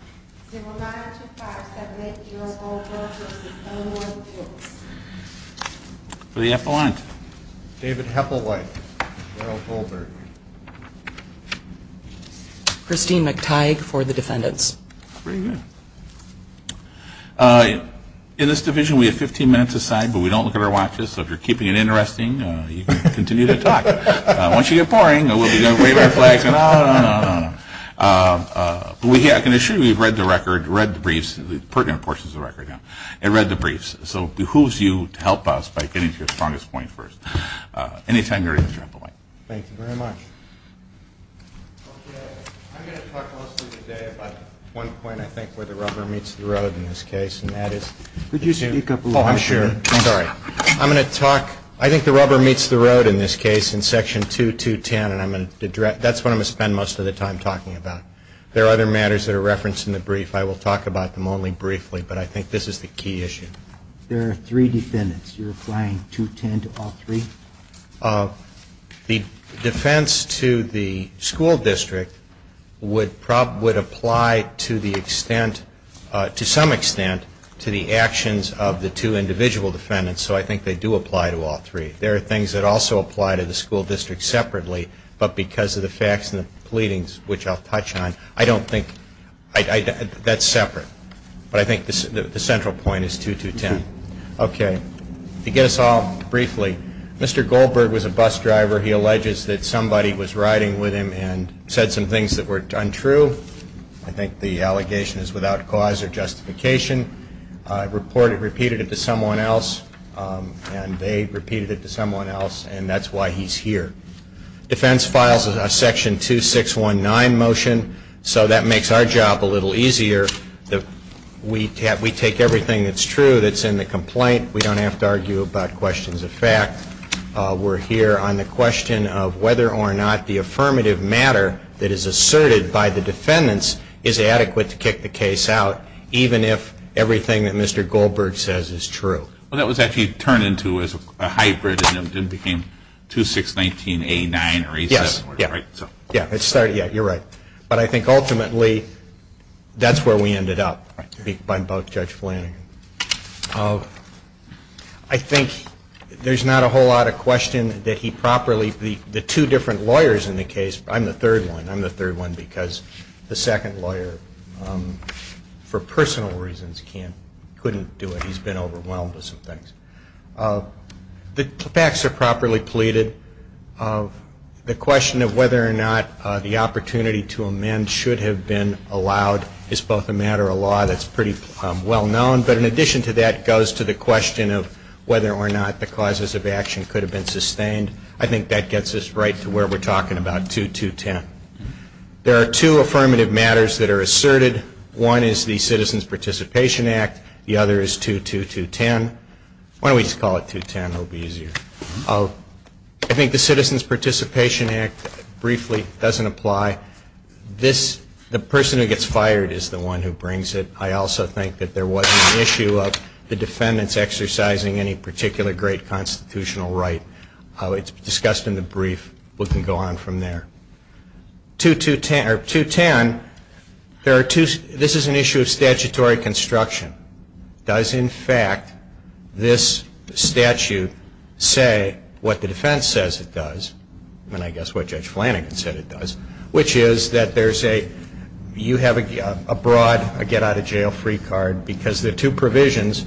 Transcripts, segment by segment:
For the Eppelant, David Heppelwhite, Gerald Goldberg, Christine McTighe for the Defendants. In this division we have 15 minutes a side but we don't look at our watches so if you're keeping it interesting you can continue to talk. I'm going to talk mostly today about one point I think where the rubber meets the road in this case and that is... Could you speak up a little bit? I'm sorry. I'm going to talk... I think the rubber meets the road in this case in section 2.2.10 and that's what I'm going to spend most of the time talking about. There are other matters that are referenced in the brief. I will talk about them only briefly but I think this is the key issue. There are three defendants. You're applying 2.2.10 to all three? The defense to the school district would apply to the extent, to some extent, to the actions of the two individual defendants so I think they do apply to all three. There are things that also apply to the school district separately but because of the facts and the pleadings, which I'll touch on, I don't think... That's separate. But I think the central point is 2.2.10. Okay. To get us off briefly, Mr. Goldberg was a bus driver. He alleges that somebody was riding with him and said some things that were untrue. I think the allegation is without cause or justification. I reported it, repeated it to someone else and they repeated it to someone else and that's why he's here. Defense files a section 2619 motion so that makes our job a little easier. We take everything that's true that's in the complaint. We don't have to argue about questions of fact. We're here on the question of whether or not the affirmative matter that is asserted by the defendants is adequate to kick the case out even if everything that Mr. Goldberg says is true. Well, that was actually turned into a hybrid and it became 2619A9 or 87. Yes. Yeah. You're right. But I think ultimately that's where we ended up by both Judge Flanagan. I think there's not a whole lot of question that he properly... The two different lawyers in the case, I'm the third one, I'm the third one because the second lawyer for personal reasons couldn't do it. He's been overwhelmed with some things. The facts are properly pleaded. The question of whether or not the opportunity to amend should have been allowed is both a matter of law that's pretty well known but in addition to that goes to the question of whether or not the causes of action could have been sustained. I think that gets us right to where we're talking about 2210. There are two affirmative matters that are asserted. One is the Citizens Participation Act. The other is 22210. Why don't we just call it 210? It will be easier. I think the Citizens Participation Act briefly doesn't apply. The person who gets fired is the one who brings it. I also think that there wasn't an issue of the defendants exercising any particular great constitutional right. It's discussed in the brief. We can go on from there. 210, this is an issue of statutory construction. Does, in fact, this statute say what the defense says it does, and I guess what Judge Flanagan said it does, which is that you have a broad get out of jail free card because there are two provisions.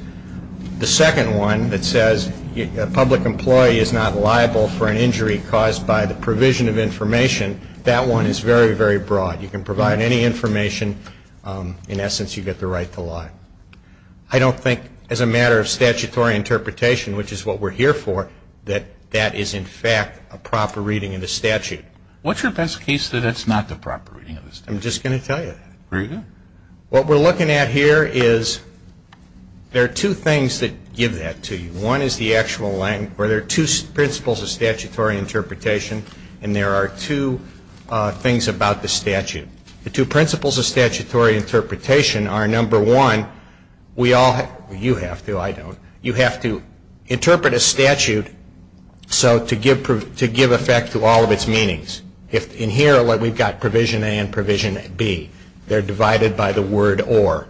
The second one that says a public employee is not liable for an injury caused by the provision of information, that one is very, very broad. You can provide any information. In essence, you get the right to lie. I don't think, as a matter of statutory interpretation, which is what we're here for, that that is, in fact, a proper reading of the statute. What's your best case that it's not the proper reading of the statute? I'm just going to tell you that. Very good. What we're looking at here is there are two things that give that to you. One is the actual length, where there are two principles of statutory interpretation, and there are two things about the statute. The two principles of statutory interpretation are, number one, we all have to, you have to, I don't, you have to interpret a statute to give effect to all of its meanings. In here, we've got provision A and provision B. They're divided by the word or.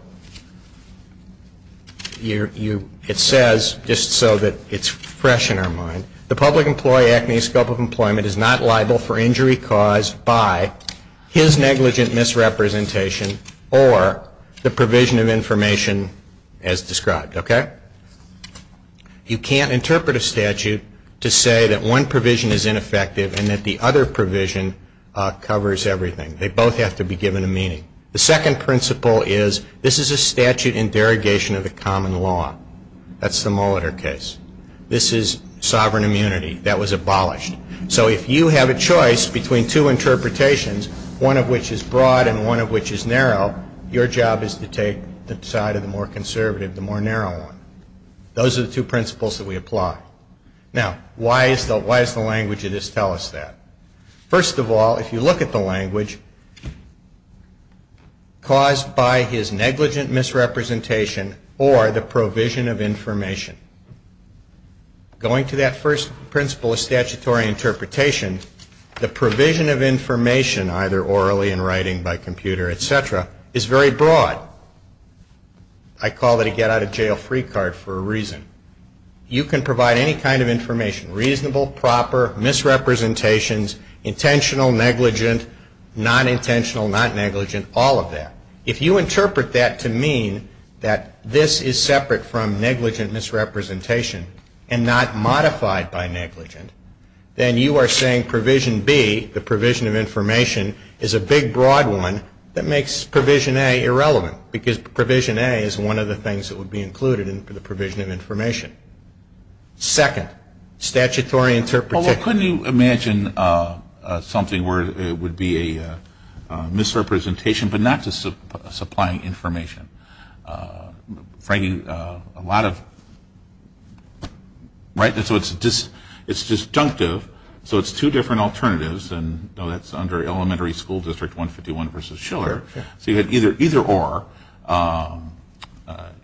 It says, just so that it's fresh in our mind, the public employee acting in the scope of employment is not liable for injury caused by his negligent misrepresentation or the provision of information as described. Okay? You can't interpret a statute to say that one provision is ineffective and that the other provision covers everything. They both have to be given a meaning. The second principle is this is a statute in derogation of the common law. That's the Mulleter case. This is sovereign immunity. That was abolished. So if you have a choice between two interpretations, one of which is broad and one of which is narrow, your job is to take the side of the more conservative, the more narrow one. Those are the two principles that we apply. Now, why does the language of this tell us that? First of all, if you look at the language, caused by his negligent misrepresentation or the provision of information, going to that first principle of statutory interpretation, the provision of information, either orally in writing, by computer, et cetera, is very broad. I call it a get-out-of-jail-free card for a reason. You can provide any kind of information, reasonable, proper, misrepresentations, intentional, negligent, nonintentional, not negligent, all of that. If you interpret that to mean that this is separate from negligent misrepresentation and not modified by negligent, then you are saying provision B, the provision of information, is a big, broad one that makes provision A irrelevant because provision A is one of the things that would be included in the provision of information. Second, statutory interpretation. Well, couldn't you imagine something where it would be a misrepresentation but not just supplying information? Frankly, a lot of, right? So it's disjunctive, so it's two different alternatives, and that's under elementary school district 151 versus Schiller. So you have either or.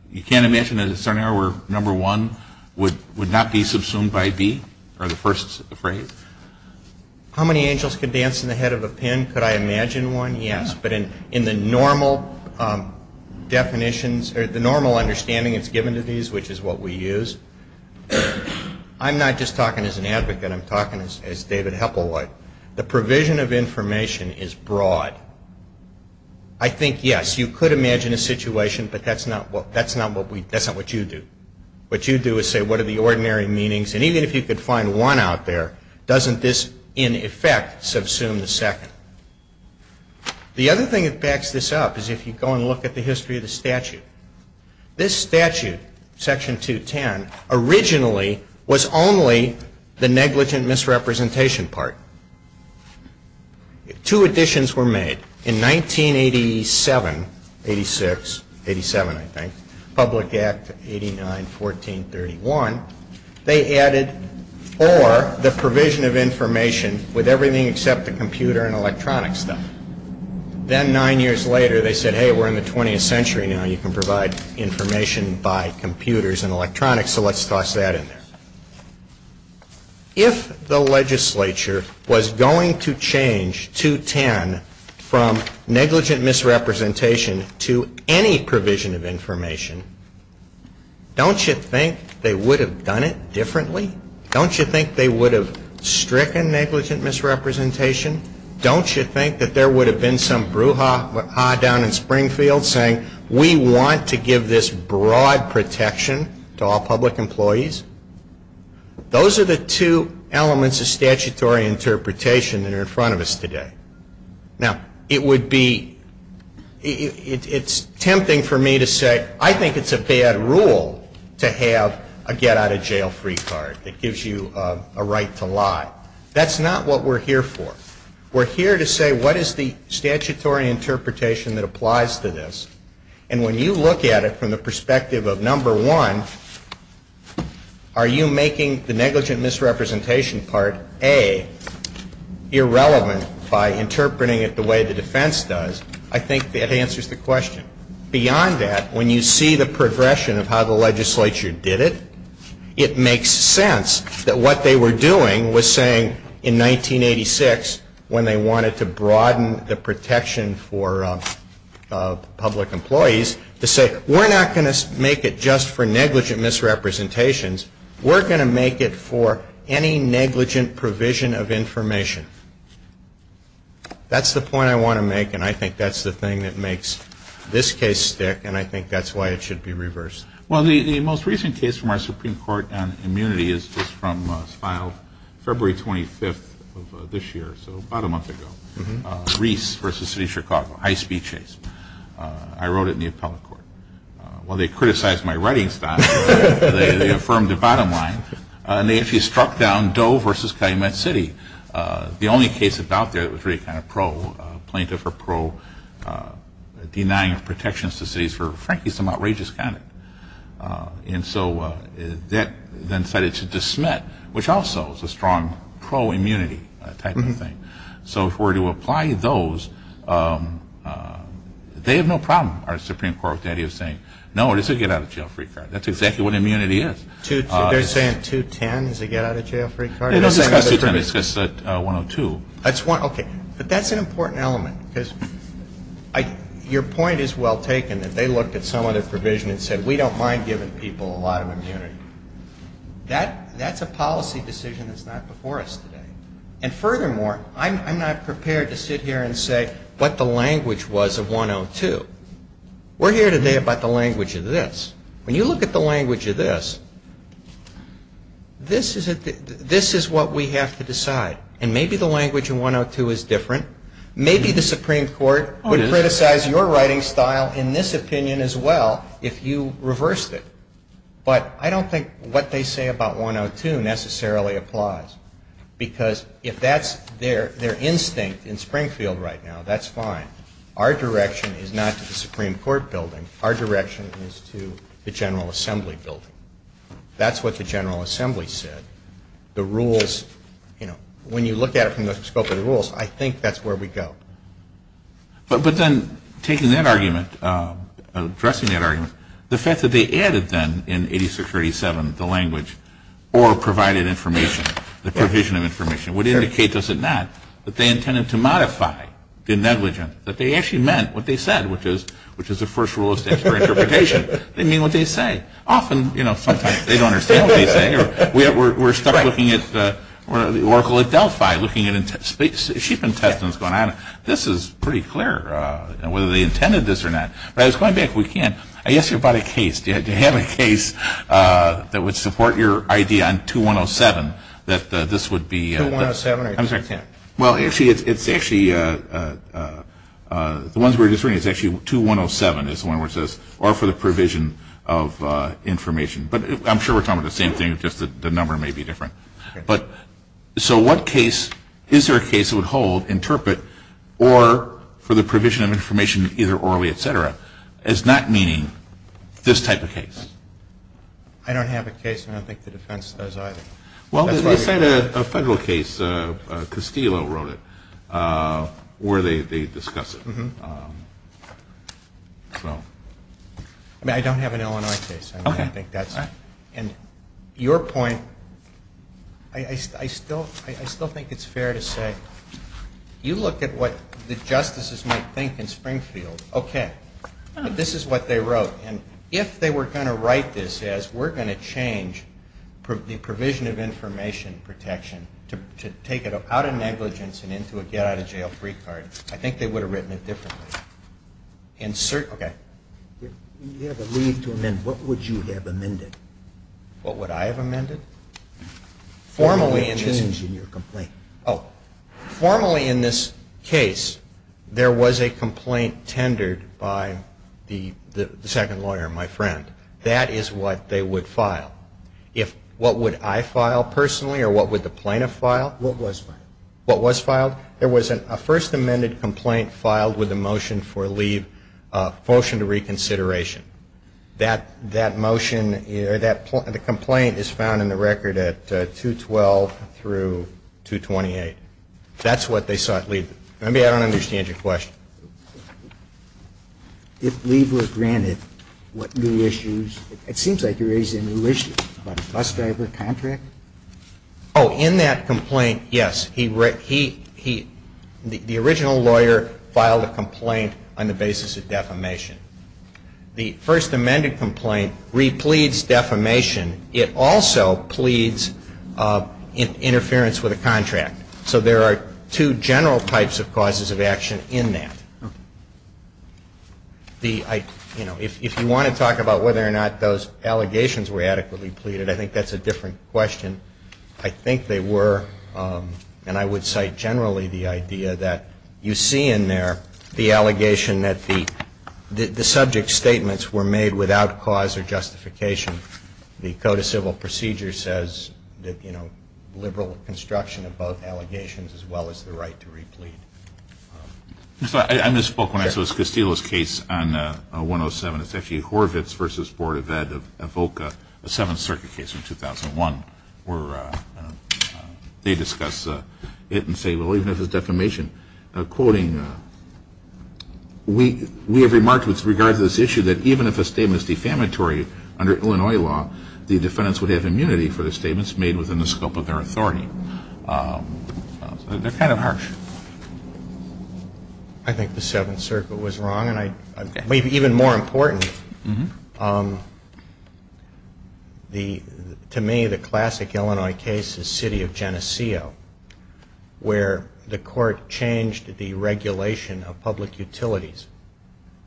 You can't imagine a scenario where number one would not be subsumed by B, or the first phrase? How many angels can dance in the head of a pen? Could I imagine one? Yes. But in the normal definitions or the normal understanding that's given to these, which is what we use, I'm not just talking as an advocate. I'm talking as David Heppel would. The provision of information is broad. I think, yes, you could imagine a situation, but that's not what you do. What you do is say, what are the ordinary meanings? And even if you could find one out there, doesn't this, in effect, subsume the second? The other thing that backs this up is if you go and look at the history of the statute. This statute, Section 210, originally was only the negligent misrepresentation part. Two additions were made. In 1987, 86, 87, I think, Public Act 89-1431, they added or the provision of information with everything except the computer and electronic stuff. Then nine years later, they said, hey, we're in the 20th century now. You can provide information by computers and electronics, so let's toss that in there. If the legislature was going to change 210 from negligent misrepresentation to any provision of information, don't you think they would have done it differently? Don't you think they would have stricken negligent misrepresentation? Don't you think that there would have been some brouhaha down in Springfield saying, we want to give this broad protection to all public employees? Those are the two elements of statutory interpretation that are in front of us today. Now, it would be, it's tempting for me to say, I think it's a bad rule to have a get-out-of-jail-free card. It gives you a right to lie. That's not what we're here for. We're here to say, what is the statutory interpretation that applies to this? And when you look at it from the perspective of, number one, are you making the negligent misrepresentation part, A, irrelevant by interpreting it the way the defense does, I think that answers the question. Beyond that, when you see the progression of how the legislature did it, it makes sense that what they were doing was saying in 1986, when they wanted to broaden the protection for public employees, to say, we're not going to make it just for negligent misrepresentations. We're going to make it for any negligent provision of information. That's the point I want to make, and I think that's the thing that makes this case stick, and I think that's why it should be reversed. Well, the most recent case from our Supreme Court on immunity is just from a file February 25th of this year, so about a month ago, Reese v. City of Chicago, high-speed chase. I wrote it in the appellate court. While they criticized my writing style, they affirmed the bottom line, and they actually struck down Doe v. Calumet City. The only case about there that was really kind of pro-plaintiff or pro-denying of protections to cities for, frankly, some outrageous conduct. And so that then cited to dismiss, which also is a strong pro-immunity type of thing. So if we're to apply those, they have no problem. Our Supreme Court authority is saying, no, it's a get-out-of-jail-free card. That's exactly what immunity is. They're saying 210 is a get-out-of-jail-free card? It's 102. But that's an important element, because your point is well taken, that they looked at some other provision and said, we don't mind giving people a lot of immunity. That's a policy decision that's not before us today. And furthermore, I'm not prepared to sit here and say what the language was of 102. We're here today about the language of this. When you look at the language of this, this is what we have to decide. And maybe the language of 102 is different. Maybe the Supreme Court would criticize your writing style in this opinion as well if you reversed it. But I don't think what they say about 102 necessarily applies, because if that's their instinct in Springfield right now, that's fine. Our direction is not to the Supreme Court building. Our direction is to the General Assembly building. That's what the General Assembly said. The rules, you know, when you look at it from the scope of the rules, I think that's where we go. But then taking that argument, addressing that argument, the fact that they added then in 86-37 the language or provided information, the provision of information, would indicate, does it not, that they intended to modify the negligence, that they actually meant what they said, which is the first rule of statute for interpretation. They mean what they say. Often, you know, sometimes they don't understand what they say. We're stuck looking at the Oracle at Delphi, looking at sheep intestines going on. This is pretty clear, whether they intended this or not. But I was going back. We can't. I asked you about a case. Do you have a case that would support your idea on 2107 that this would be the... 2107 or 21010? Well, actually, it's actually... The ones we were just reading, it's actually 2107 is the one where it says, or for the provision of information. But I'm sure we're talking about the same thing, just the number may be different. But so what case, is there a case that would hold, interpret, or for the provision of information either orally, et cetera, as not meaning this type of case? I don't have a case, and I don't think the defense does either. Well, they said a federal case, Castillo wrote it, where they discuss it. I mean, I don't have an Illinois case. I don't think that's... And your point, I still think it's fair to say, you look at what the justices might think in Springfield. Okay, this is what they wrote. And if they were going to write this as, we're going to change the provision of information protection to take it out of negligence and into a get-out-of-jail-free card, I think they would have written it differently. Okay. When you have a leave to amend, what would you have amended? What would I have amended? Formally in this... Or would you have changed in your complaint? Oh, formally in this case, there was a complaint tendered by the second lawyer, my friend. That is what they would file. If what would I file personally, or what would the plaintiff file? What was filed. What was filed? There was a first amended complaint filed with a motion for leave, a motion to reconsideration. That motion or that complaint is found in the record at 212 through 228. That's what they sought leave. Maybe I don't understand your question. If leave were granted, what new issues... It seems like you're raising a new issue about a bus driver contract. Oh, in that complaint, yes. The original lawyer filed a complaint on the basis of defamation. The first amended complaint repletes defamation. It also pleads interference with a contract. So there are two general types of causes of action in that. If you want to talk about whether or not those allegations were adequately pleaded, I think that's a different question. I think they were, and I would cite generally the idea that you see in there the allegation that the subject's statements were made without cause or justification. The Code of Civil Procedure says that, you know, liberal construction of both allegations as well as the right to replete. I misspoke when I said it was Castillo's case on 107. It's actually Horvitz v. Board of Ed of VOCA, the Seventh Circuit case from 2001, where they discuss it and say, well, even if it's defamation. Quoting, we have remarked with regard to this issue that even if a statement is defamatory under Illinois law, the defendants would have immunity for the statements made within the scope of their authority. So they're kind of harsh. I think the Seventh Circuit was wrong, and maybe even more important, to me the classic Illinois case is City of Geneseo, where the court changed the regulation of public utilities.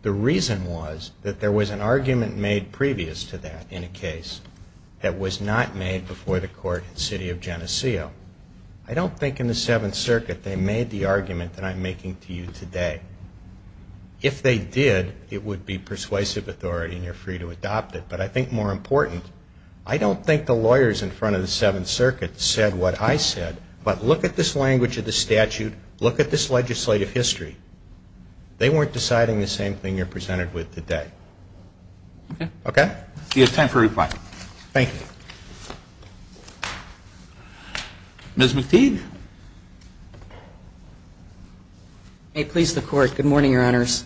The reason was that there was an argument made previous to that in a case that was not made before the court in City of Geneseo. I don't think in the Seventh Circuit they made the argument that I'm making to you today. If they did, it would be persuasive authority and you're free to adopt it. But I think more important, I don't think the lawyers in front of the Seventh Circuit said what I said, but look at this language of the statute, look at this legislative history. They weren't deciding the same thing you're presented with today. Okay? See, it's time for reply. Thank you. Ms. McTeague. May it please the Court. Good morning, Your Honors.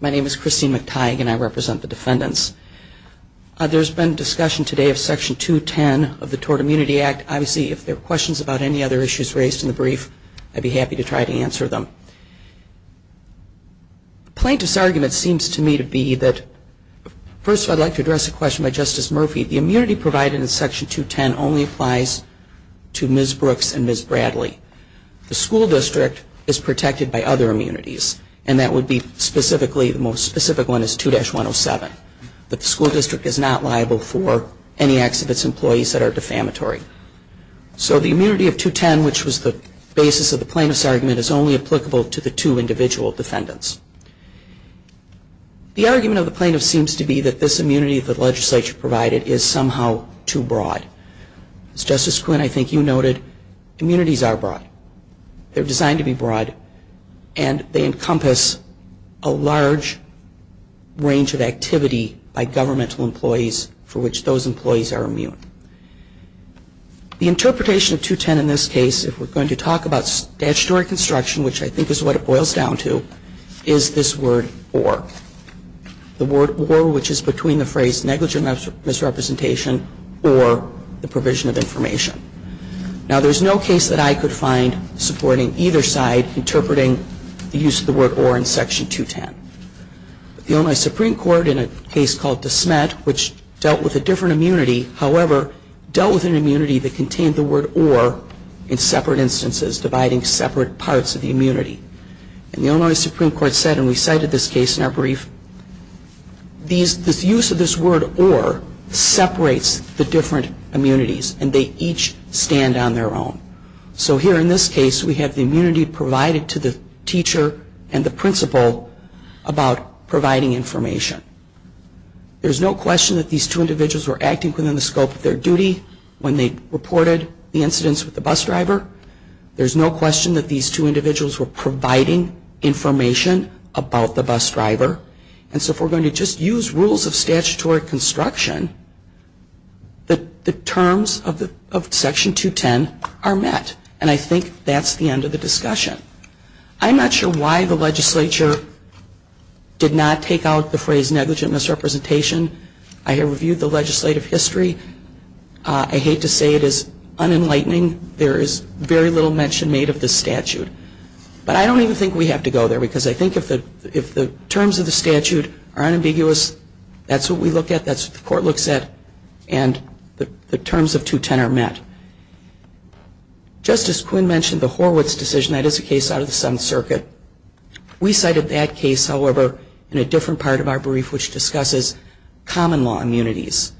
My name is Christine McTeague, and I represent the defendants. There's been discussion today of Section 210 of the Tort Immunity Act. Obviously, if there are questions about any other issues raised in the brief, I'd be happy to try to answer them. The plaintiff's argument seems to me to be that, first of all, I'd like to address a question by Justice Murphy. The immunity provided in Section 210 only applies to Ms. Brooks and Ms. Bradley. The school district is protected by other immunities, and that would be specifically, the most specific one is 2-107, that the school district is not liable for any acts of its employees that are defamatory. So the immunity of 2-10, which was the basis of the plaintiff's argument, is only applicable to the two individual defendants. The argument of the plaintiff seems to be that this immunity that the legislature provided is somehow too broad. As Justice Quinn, I think you noted, immunities are broad. They're designed to be broad, and they encompass a large range of activity by governmental employees for which those employees are immune. The interpretation of 2-10 in this case, if we're going to talk about statutory construction, which I think is what it boils down to, is this word or. The word or, which is between the phrase negligent misrepresentation or the provision of information. Now, there's no case that I could find supporting either side interpreting the use of the word or in Section 210. The Illinois Supreme Court, in a case called DeSmet, which dealt with a different immunity, however, dealt with an immunity that contained the word or in separate instances, dividing separate parts of the immunity. And the Illinois Supreme Court said, and we cited this case in our brief, the use of this word or separates the different immunities, and they each stand on their own. So here in this case, we have the immunity provided to the teacher and the principle about providing information. There's no question that these two individuals were acting within the scope of their duty when they reported the incidents with the bus driver. There's no question that these two individuals were providing information about the bus driver. And so if we're going to just use rules of statutory construction, the terms of Section 210 are met. And I think that's the end of the discussion. I'm not sure why the legislature did not take out the phrase negligent misrepresentation. I have reviewed the legislative history. I hate to say it is unenlightening. There is very little mention made of this statute. But I don't even think we have to go there, because I think if the terms of the statute are unambiguous, that's what we look at, that's what the court looks at, and the terms of 210 are met. Just as Quinn mentioned, the Horwitz decision, that is a case out of the Seventh Circuit. We cited that case, however, in a different part of our brief, which discusses common law immunities,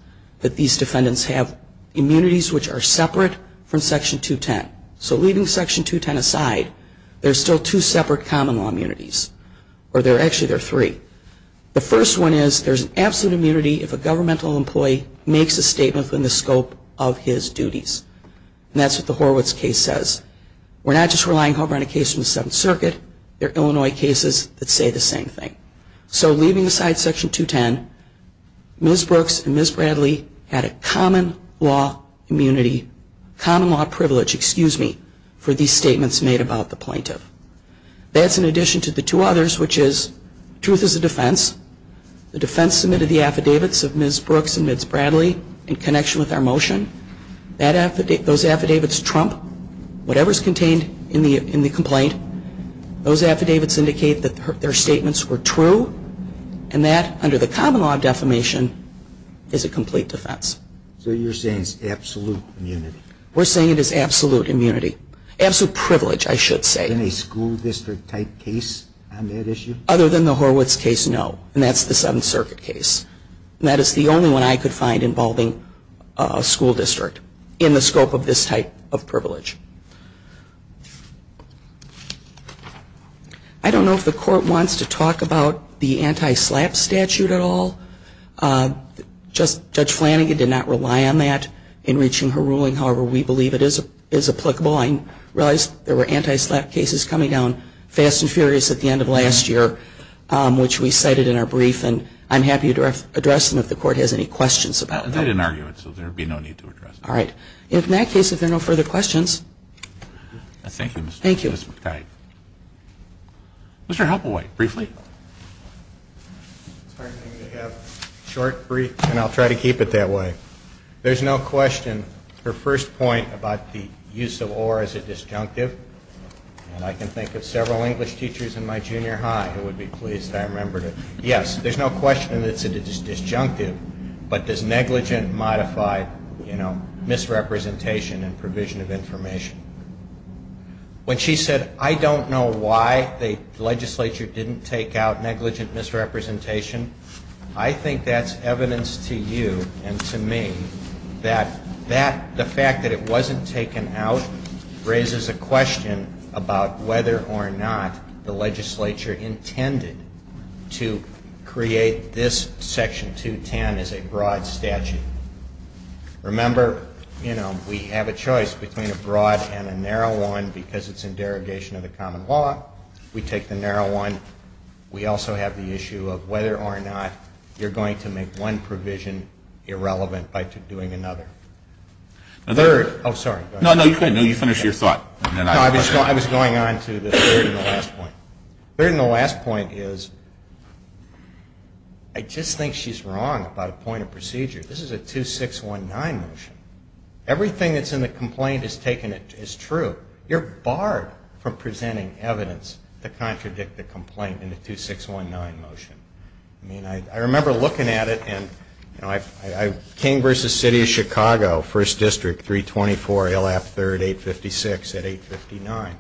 that these defendants have immunities which are separate from Section 210. So leaving Section 210 aside, there are still two separate common law immunities, or actually there are three. The first one is there's an absolute immunity if a governmental employee makes a statement within the scope of his duties. And that's what the Horwitz case says. We're not just relying, however, on a case from the Seventh Circuit. There are Illinois cases that say the same thing. So leaving aside Section 210, Ms. Brooks and Ms. Bradley had a common law immunity, common law privilege, excuse me, for these statements made about the plaintiff. That's in addition to the two others, which is truth is a defense. The defense submitted the affidavits of Ms. Brooks and Ms. Bradley in connection with our motion. Those affidavits trump whatever's contained in the complaint. Those affidavits indicate that their statements were true, and that under the common law defamation is a complete defense. So you're saying it's absolute immunity? We're saying it is absolute immunity. Absolute privilege, I should say. Any school district type case on that issue? Other than the Horwitz case, no. And that's the Seventh Circuit case. And that is the only one I could find involving a school district in the scope of this type of privilege. I don't know if the Court wants to talk about the anti-SLAPP statute at all. Judge Flanagan did not rely on that in reaching her ruling. However, we believe it is applicable. I realize there were anti-SLAPP cases coming down fast and furious at the end of last year, which we cited in our brief, and I'm happy to address them if the Court has any questions about them. They didn't argue it, so there would be no need to address them. All right. In that case, if there are no further questions. Thank you, Mr. McTighe. Thank you. Mr. Halpelwhite, briefly. It's hard for me to have a short brief, and I'll try to keep it that way. There's no question. Her first point about the use of or as a disjunctive, and I can think of several English teachers in my junior high who would be pleased I remembered it. Yes, there's no question that it's a disjunctive, but there's negligent modified misrepresentation and provision of information. When she said, I don't know why the legislature didn't take out negligent misrepresentation, I think that's evidence to you and to me that the fact that it wasn't taken out raises a question about whether or not the legislature intended to create this Section 210 as a broad statute. Remember, you know, we have a choice between a broad and a narrow one because it's in derogation of the common law. We take the narrow one. We also have the issue of whether or not you're going to make one provision irrelevant by doing another. Oh, sorry. No, no, you finish your thought. No, I was going on to the third and the last point. The third and the last point is I just think she's wrong about a point of procedure. This is a 2619 motion. Everything that's in the complaint is true. You're barred from presenting evidence to contradict the complaint in the 2619 motion. I mean, I remember looking at it and, you know, King v. City of Chicago, 1st District, 324 ALF 3rd, 856 at 859.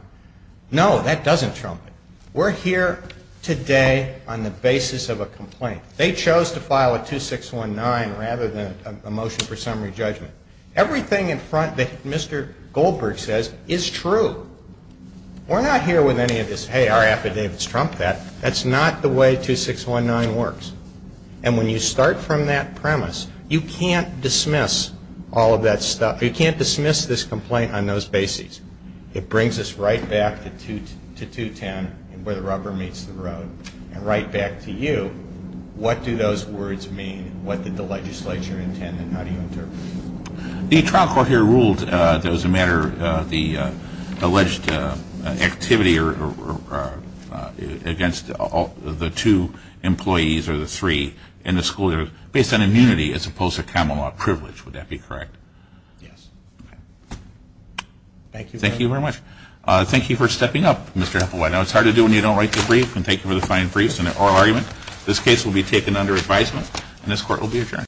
No, that doesn't trump it. We're here today on the basis of a complaint. They chose to file a 2619 rather than a motion for summary judgment. Everything in front that Mr. Goldberg says is true. We're not here with any of this, hey, our affidavits trump that. That's not the way 2619 works. And when you start from that premise, you can't dismiss all of that stuff. You can't dismiss this complaint on those bases. It brings us right back to 210, where the rubber meets the road, and right back to you. What do those words mean? What did the legislature intend, and how do you interpret them? The trial court here ruled that it was a matter of the alleged activity against the two employees or the three in the school year, based on immunity as opposed to common law privilege. Would that be correct? Yes. Thank you very much. Thank you for stepping up, Mr. Epelwhite. Now, it's hard to do when you don't write the brief, and thank you for the fine briefs and the oral argument. This case will be taken under advisement and this court will be adjourned.